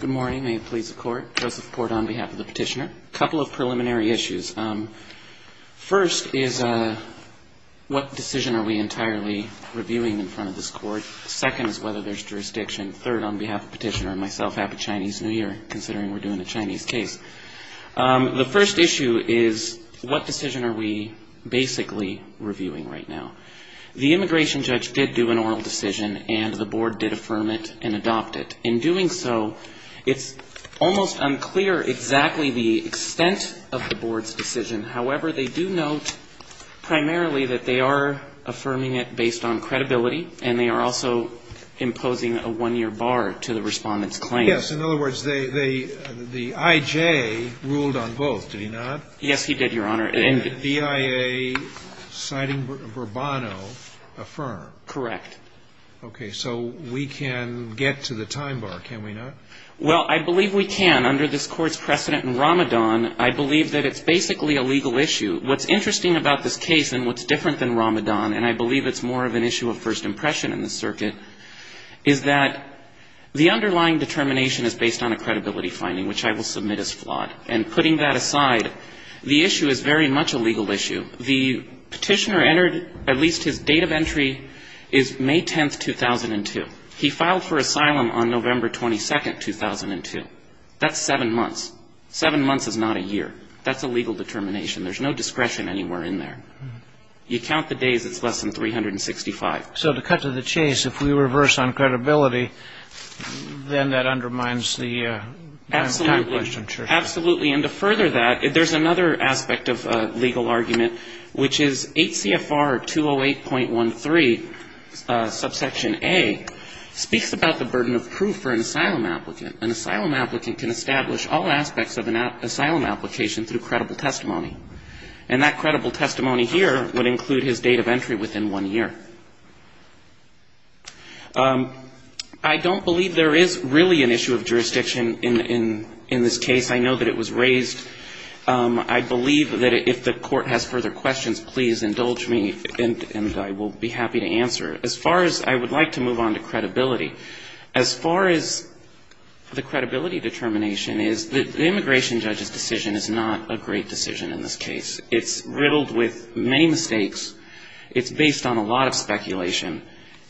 Good morning. May it please the court. Joseph Port on behalf of the petitioner. A couple of preliminary issues. First is what decision are we entirely reviewing in front of this court? Second is whether there's jurisdiction. Third, on behalf of the petitioner and myself, happy Chinese New Year, considering we're doing a Chinese case. The first issue is what decision are we basically reviewing right now? The immigration judge did do an oral decision and the board did affirm it and adopt it. In doing so, it's almost unclear exactly the extent of the board's decision. However, they do note primarily that they are affirming it based on credibility and they are also imposing a one-year bar to the respondent's claim. Yes. In other words, the I.J. ruled on both, did he not? Yes, he did, Your Honor. And the BIA, citing Bourbano, affirmed? Correct. Okay. So we can get to the time bar, can we not? Well, I believe we can. Under this Court's precedent in Ramadan, I believe that it's basically a legal issue. What's interesting about this case and what's different than Ramadan, and I believe it's more of an issue of first impression in the circuit, is that the underlying determination is based on a credibility finding, which I will submit as flawed. And putting that aside, the issue is very much a legal issue. The petitioner entered, at least his date of entry is May 10th, 2002. He filed for asylum on November 22nd, 2002. That's seven months. Seven months is not a year. That's a legal determination. There's no discretion anywhere in there. You count the days, it's less than 365. So to cut to the chase, if we reverse on credibility, then that undermines the time question. Absolutely. And to further that, there's another aspect of legal argument, which is 8 CFR 208.13, subsection A, speaks about the burden of proof for an asylum applicant. An asylum applicant can establish all aspects of an asylum application through credible testimony. And that credible testimony here would include his date of entry within one year. I don't believe there is really an issue of jurisdiction in this case. I know that it was raised. I believe that if the court has further questions, please indulge me, and I will be happy to answer. As far as I would like to move on to credibility, as far as the credibility determination is, the immigration judge's decision is not a great decision in this case. It's riddled with many mistakes. It's based on a lot of speculation.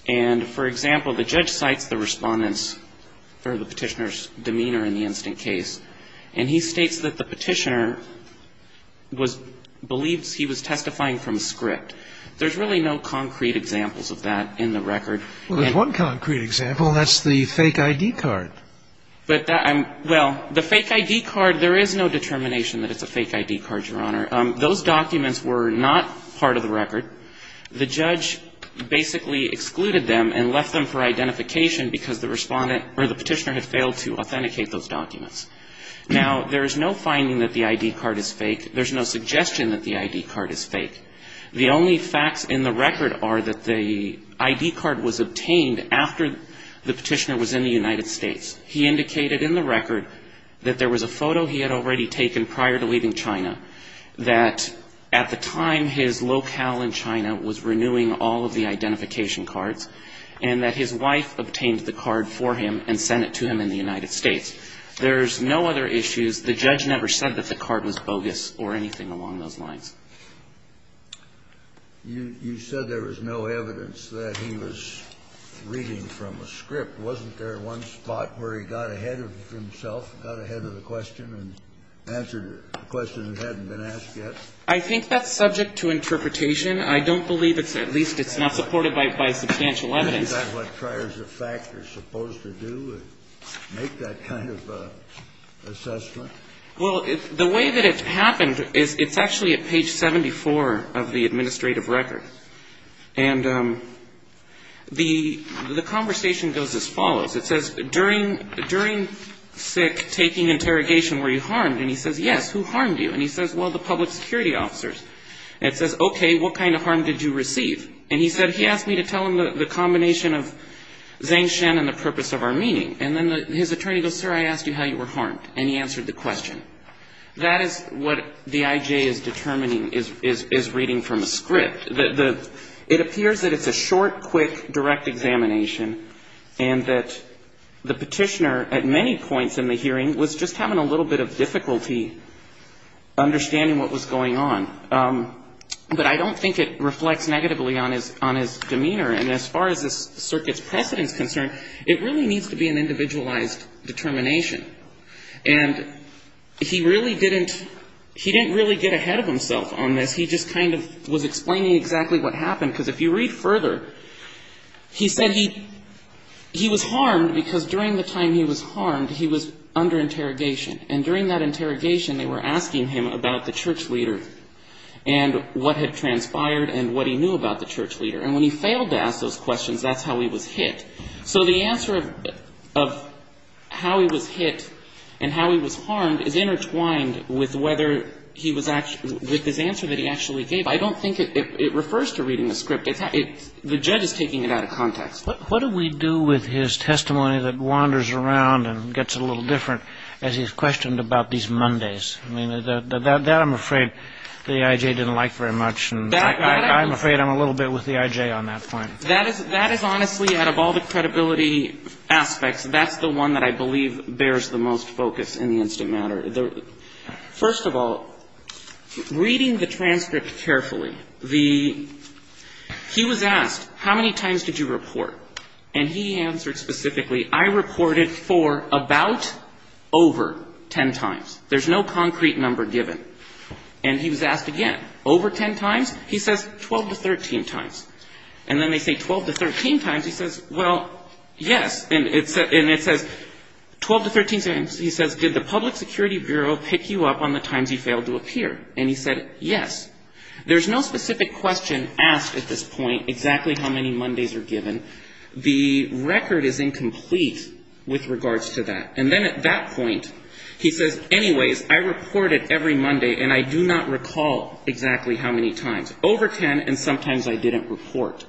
And, for example, the judge cites the Respondent's, or the Petitioner's, demeanor in the instant case. And he states that the Petitioner was, believes he was testifying from a script. There's really no concrete examples of that in the record. Well, there's one concrete example, and that's the fake ID card. But that, well, the fake ID card, there is no determination that it's a fake ID card, Your Honor. Those documents were not part of the record. The judge basically excluded them and left them for identification because the Respondent, or the Petitioner, had failed to authenticate those documents. Now, there is no finding that the ID card is fake. There's no suggestion that the ID card is fake. The only facts in the record are that the ID card was obtained after the Petitioner was in the United States. He indicated in the record that there was a photo he had already taken prior to leaving China. That at the time, his locale in China was renewing all of the identification cards. And that his wife obtained the card for him and sent it to him in the United States. There's no other issues. The judge never said that the card was bogus or anything along those lines. You said there was no evidence that he was reading from a script. Wasn't there one spot where he got ahead of himself, got ahead of the question and answered a question that hadn't been asked yet? I think that's subject to interpretation. I don't believe it's at least it's not supported by substantial evidence. Is that what priors of fact are supposed to do, make that kind of assessment? Well, the way that it happened is it's actually at page 74 of the administrative record. And the conversation goes as follows. It says, during SICK, taking interrogation, were you harmed? And he says, yes, who harmed you? And he says, well, the public security officers. And it says, okay, what kind of harm did you receive? And he said, he asked me to tell him the combination of Zhang Shen and the purpose of our meeting. And then his attorney goes, sir, I asked you how you were harmed. And he answered the question. That is what the IJ is determining, is reading from a script. It appears that it's a short, quick, direct examination, and that the petitioner at many points in the hearing was just having a little bit of difficulty understanding what was going on. But I don't think it reflects negatively on his demeanor. And as far as the circuit's precedence is concerned, it really needs to be an individualized determination. And he really didn't get ahead of himself on this. He just kind of was explaining exactly what happened. Because if you read further, he said he was harmed because during the time he was harmed, he was under interrogation. And during that interrogation, they were asking him about the church leader and what had transpired and what he knew about the church leader. And when he failed to ask those questions, that's how he was hit. So the answer of how he was hit and how he was harmed is intertwined with whether he was actually — with his answer that he actually gave. I don't think it refers to reading the script. The judge is taking it out of context. What do we do with his testimony that wanders around and gets a little different as he's questioned about these Mondays? I mean, that I'm afraid the IJ didn't like very much. I'm afraid I'm a little bit with the IJ on that point. That is honestly, out of all the credibility aspects, that's the one that I believe bears the most focus in the instant matter. First of all, reading the transcript carefully, the — he was asked, how many times did you report? And he answered specifically, I reported for about over ten times. There's no concrete number given. And he was asked again, over ten times? He says, 12 to 13 times. And then they say 12 to 13 times. He says, well, yes. And it says 12 to 13 times. He says, did the Public Security Bureau pick you up on the times you failed to appear? And he said, yes. There's no specific question asked at this point, exactly how many Mondays are given. The record is incomplete with regards to that. And then at that point, he says, anyways, I reported every Monday, and I do not recall exactly how many times. Over ten, and sometimes I didn't report.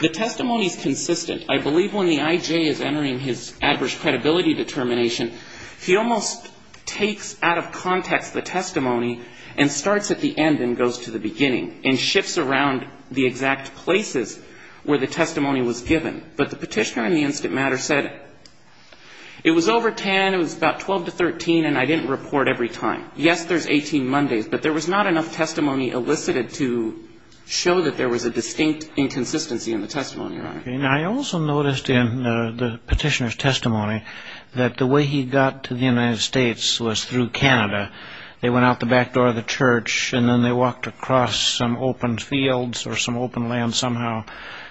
The testimony is consistent. I believe when the I.J. is entering his adverse credibility determination, he almost takes out of context the testimony and starts at the end and goes to the beginning and shifts around the exact places where the testimony was given. But the Petitioner in the instant matter said, it was over ten, it was about 12 to 13, and I didn't report every time. Yes, there's 18 Mondays, but there was not enough testimony elicited to show that there was a distinct inconsistency in the testimony, Your Honor. Okay. Now, I also noticed in the Petitioner's testimony that the way he got to the United States was through Canada. They went out the back door of the church, and then they walked across some open fields or some open land somehow,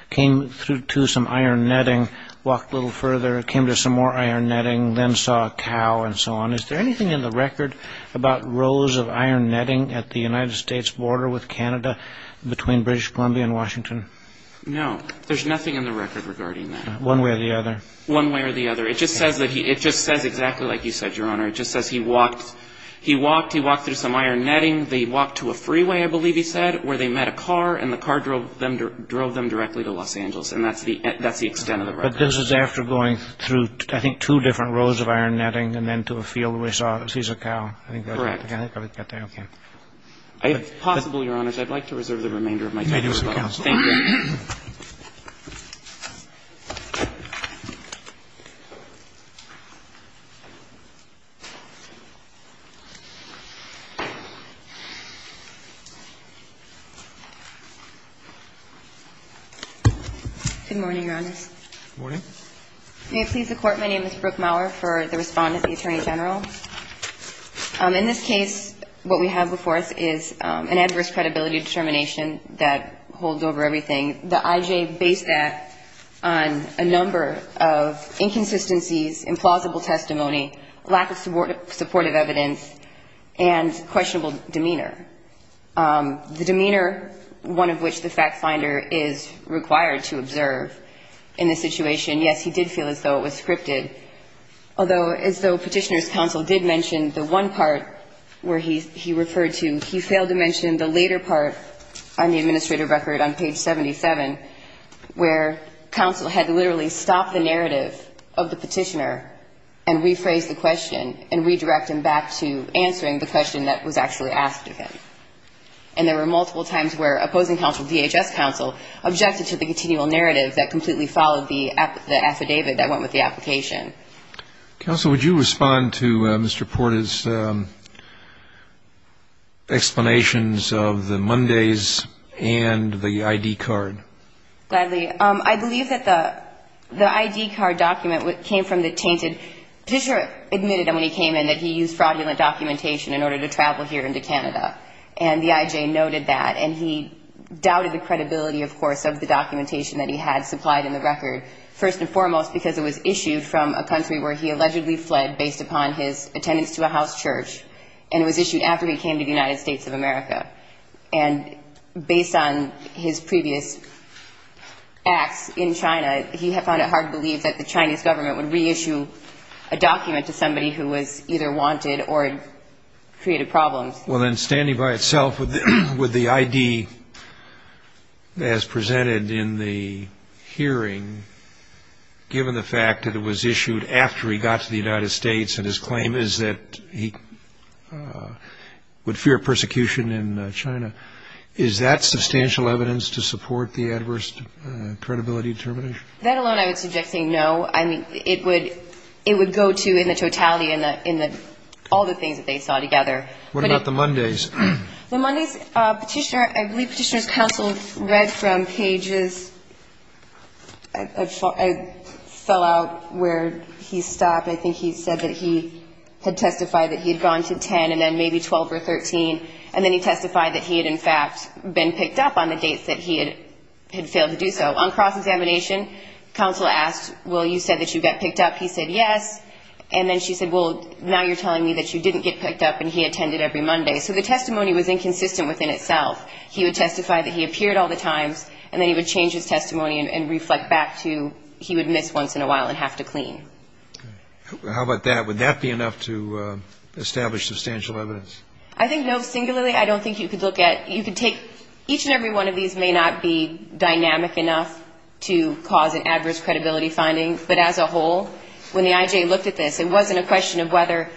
came to some iron netting, walked a little further, came to some more iron netting, then saw a cow and so on. Is there anything in the record about rows of iron netting at the United States border with Canada between British Columbia and Washington? No. There's nothing in the record regarding that. One way or the other. One way or the other. It just says exactly like you said, Your Honor. It just says he walked through some iron netting. They walked to a freeway, I believe he said, where they met a car, and the car drove them directly to Los Angeles. And that's the extent of the record. But this is after going through, I think, two different rows of iron netting and then to a field where he saw a cow. Correct. I think I would get there. Okay. If possible, Your Honors, I'd like to reserve the remainder of my time as well. Thank you. Good morning, Your Honors. Good morning. May it please the Court, my name is Brooke Maurer, for the respondent, the Attorney General. In this case, what we have before us is an adverse credibility determination that holds over everything. The I.J. based that on a number of inconsistencies, implausible testimony, lack of supportive evidence, and questionable demeanor. The demeanor, one of which the fact finder is required to observe in this situation, yes, he did feel as though it was scripted. Although, as though Petitioner's counsel did mention the one part where he referred to, he failed to mention the later part on the administrator record on page 77, where counsel had literally stopped the narrative of the Petitioner and rephrased the question and redirected him back to answering the question that was actually asked of him. And there were multiple times where opposing counsel, DHS counsel, objected to the continual narrative that completely followed the affidavit that went with the application. Counsel, would you respond to Mr. Porta's explanations of the Mondays and the I.D. card? Gladly. I believe that the I.D. card document came from the tainted. Petitioner admitted when he came in that he used fraudulent documentation in order to travel here into Canada. And the I.J. noted that. And he doubted the credibility, of course, of the documentation that he had supplied in the record, first and foremost because it was issued from a country where he allegedly fled based upon his attendance to a house church. And it was issued after he came to the United States of America. And based on his previous acts in China, he found it hard to believe that the Chinese government would reissue a document to somebody who was either wanted or created problems. Well, then, standing by itself with the I.D. as presented in the hearing, given the fact that it was issued after he got to the United States and his claim is that he would fear persecution in China, is that substantial evidence to support the adverse credibility determination? That alone I would suggest saying no. I mean, it would go to in the totality in all the things that they saw together. What about the Mondays? The Mondays Petitioner, I believe Petitioner's counsel read from pages. I fell out where he stopped. I think he said that he had testified that he had gone to 10 and then maybe 12 or 13. And then he testified that he had, in fact, been picked up on the dates that he had failed to do so. On cross-examination, counsel asked, well, you said that you got picked up. He said yes. And then she said, well, now you're telling me that you didn't get picked up and he attended every Monday. So the testimony was inconsistent within itself. He would testify that he appeared all the times, and then he would change his testimony and reflect back to he would miss once in a while and have to clean. How about that? Would that be enough to establish substantial evidence? I think no. Singularly, I don't think you could look at you could take each and every one of these may not be dynamic enough to cause an adverse credibility finding, but as a whole, when the I.J. looked at this, it wasn't a question of whether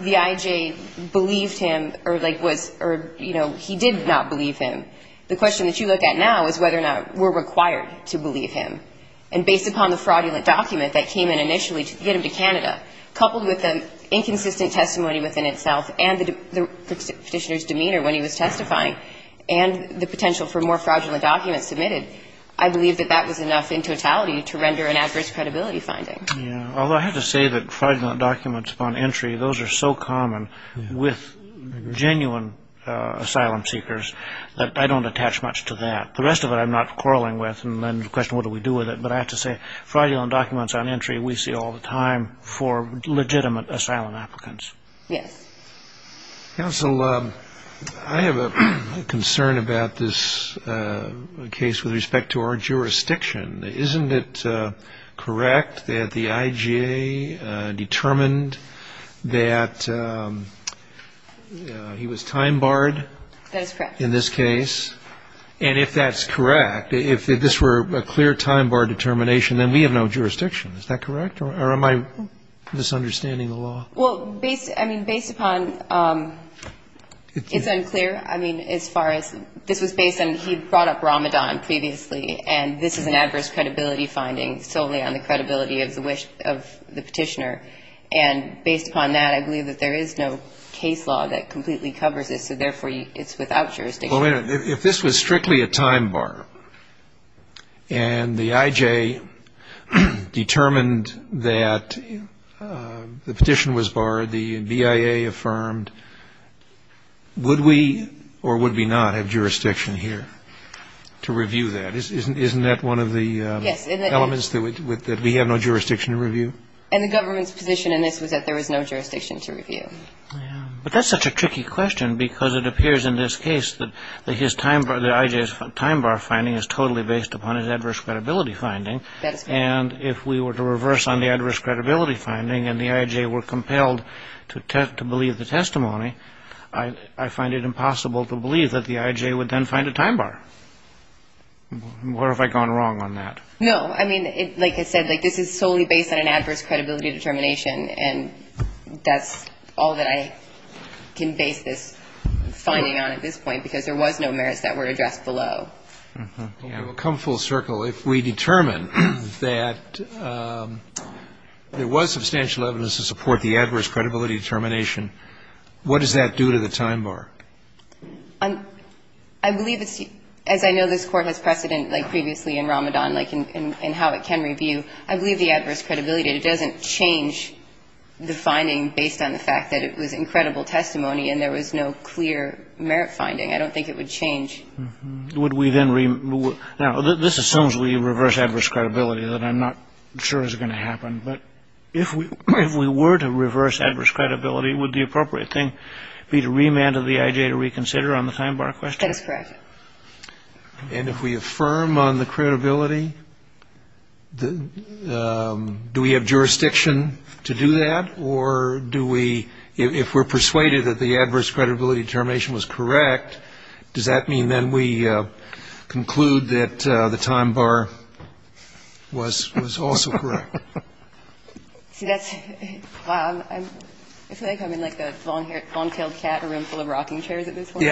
the I.J. believed him or, like, was or, you know, he did not believe him. The question that you look at now is whether or not we're required to believe him. And based upon the fraudulent document that came in initially to get him to Canada, coupled with the inconsistent testimony within itself and the Petitioner's demeanor when he was testifying and the potential for more fraudulent documents submitted, I believe that that was enough in totality to render an adverse credibility finding. Yeah. Although I have to say that fraudulent documents upon entry, those are so common with genuine asylum seekers that I don't attach much to that. The rest of it I'm not quarreling with and then the question, what do we do with it? But I have to say fraudulent documents on entry we see all the time for legitimate asylum applicants. Yes. Counsel, I have a concern about this case with respect to our jurisdiction. Isn't it correct that the I.J. determined that he was time barred in this case? That is correct. If this were a clear time bar determination, then we have no jurisdiction. Is that correct? Or am I misunderstanding the law? Well, I mean, based upon it's unclear. I mean, as far as this was based on he brought up Ramadan previously, and this is an adverse credibility finding solely on the credibility of the Petitioner. And based upon that, I believe that there is no case law that completely covers this, so therefore it's without jurisdiction. Well, wait a minute. If this was strictly a time bar and the I.J. determined that the petition was barred, the BIA affirmed, would we or would we not have jurisdiction here to review that? Isn't that one of the elements that we have no jurisdiction to review? And the government's position in this was that there was no jurisdiction to review. But that's such a tricky question because it appears in this case that the I.J.'s time bar finding is totally based upon his adverse credibility finding. And if we were to reverse on the adverse credibility finding and the I.J. were compelled to believe the testimony, I find it impossible to believe that the I.J. would then find a time bar. Where have I gone wrong on that? No, I mean, like I said, this is solely based on an adverse credibility determination, and that's all that I can base this finding on at this point because there was no merits that were addressed below. Okay. I will come full circle. If we determine that there was substantial evidence to support the adverse credibility determination, what does that do to the time bar? I believe it's as I know this Court has precedent like previously in Ramadan, like in how it can review. I believe the adverse credibility, it doesn't change the finding based on the fact that it was incredible testimony and there was no clear merit finding. I don't think it would change. Would we then remove? Now, this assumes we reverse adverse credibility that I'm not sure is going to happen. But if we were to reverse adverse credibility, would the appropriate thing be to remand to the I.J. to reconsider on the time bar question? That is correct. And if we affirm on the credibility, do we have jurisdiction to do that? Or do we, if we're persuaded that the adverse credibility determination was correct, does that mean then we conclude that the time bar was also correct? See, that's, I feel like I'm in like a long-tailed cat, a room full of rocking chairs at this point. Yeah.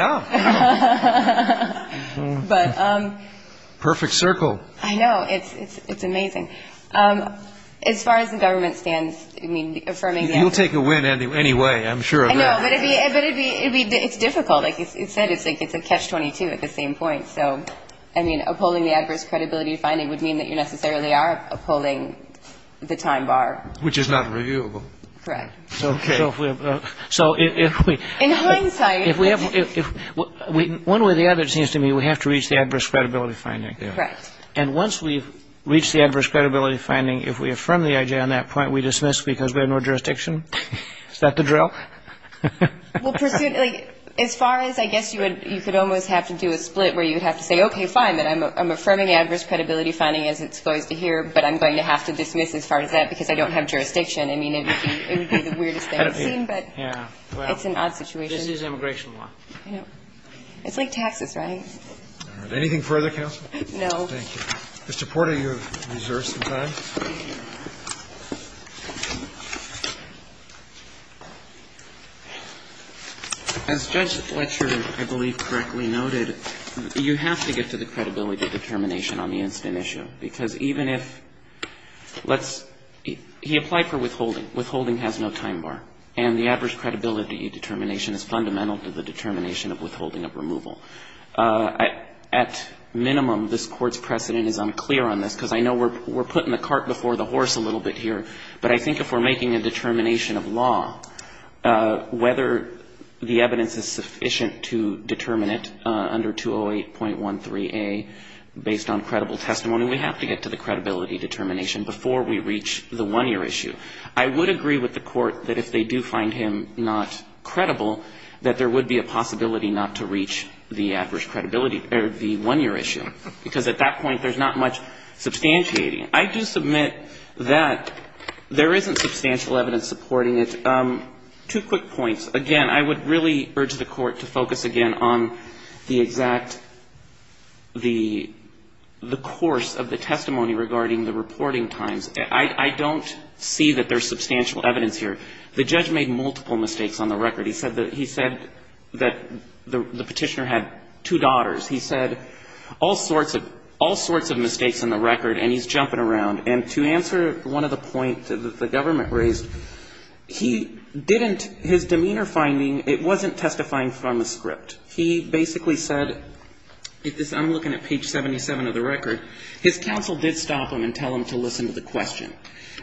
But... Perfect circle. I know. It's amazing. As far as the government stands, I mean, affirming that... You'll take a win anyway, I'm sure of that. I know, but it'd be, it's difficult. Like you said, it's a catch-22 at the same point. So, I mean, upholding the adverse credibility finding would mean that you necessarily are upholding the time bar. Which is not reviewable. Correct. Okay. So if we... In hindsight... One way or the other, it seems to me, we have to reach the adverse credibility finding. Correct. And once we've reached the adverse credibility finding, if we affirm the IJ on that point, we dismiss because we have no jurisdiction? Is that the drill? Well, as far as, I guess you could almost have to do a split where you would have to say, okay, fine, I'm affirming adverse credibility finding as it's supposed to here, but I'm going to have to dismiss as far as that because I don't have jurisdiction. I mean, it would be the weirdest thing I've seen, but it's an odd situation. This is immigration law. I know. It's like taxes, right? All right. Anything further, counsel? No. Thank you. Mr. Porter, you have reserved some time. As Judge Fletcher, I believe, correctly noted, you have to get to the credibility determination on the incident issue because even if let's he applied for withholding. Withholding has no time bar. And the adverse credibility determination is fundamental to the determination of withholding of removal. At minimum, this Court's precedent is unclear on this because I know we're putting the cart before the horse a little bit here, but I think if we're making a determination of law, whether the evidence is sufficient to determine it under 208.13a based on credible testimony, we have to get to the credibility determination before we reach the one-year issue. I would agree with the Court that if they do find him not credible, that there would be a possibility not to reach the adverse credibility or the one-year issue because at that point there's not much substantiating. I do submit that there isn't substantial evidence supporting it. Two quick points. Again, I would really urge the Court to focus again on the exact the course of the testimony regarding the reporting times. I don't see that there's substantial evidence here. The judge made multiple mistakes on the record. He said that the Petitioner had two daughters. He said all sorts of mistakes on the record, and he's jumping around. And to answer one of the points that the government raised, he didn't his demeanor finding, it wasn't testifying from a script. He basically said, I'm looking at page 77 of the record, his counsel did stop him and tell him to listen to the question.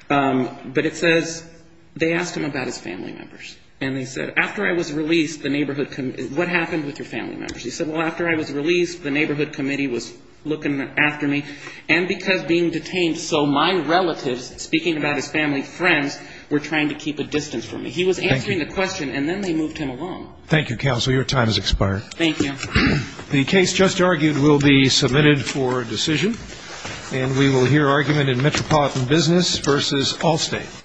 But it says they asked him about his family members. And they said, after I was released, the neighborhood committee, what happened with your family members? He said, well, after I was released, the neighborhood committee was looking after me, and because being detained, so my relatives, speaking about his family friends, were trying to keep a distance from me. He was answering the question, and then they moved him along. Thank you, counsel. Your time has expired. Thank you. The case just argued will be submitted for decision. And we will hear argument in Metropolitan Business v. Allstate.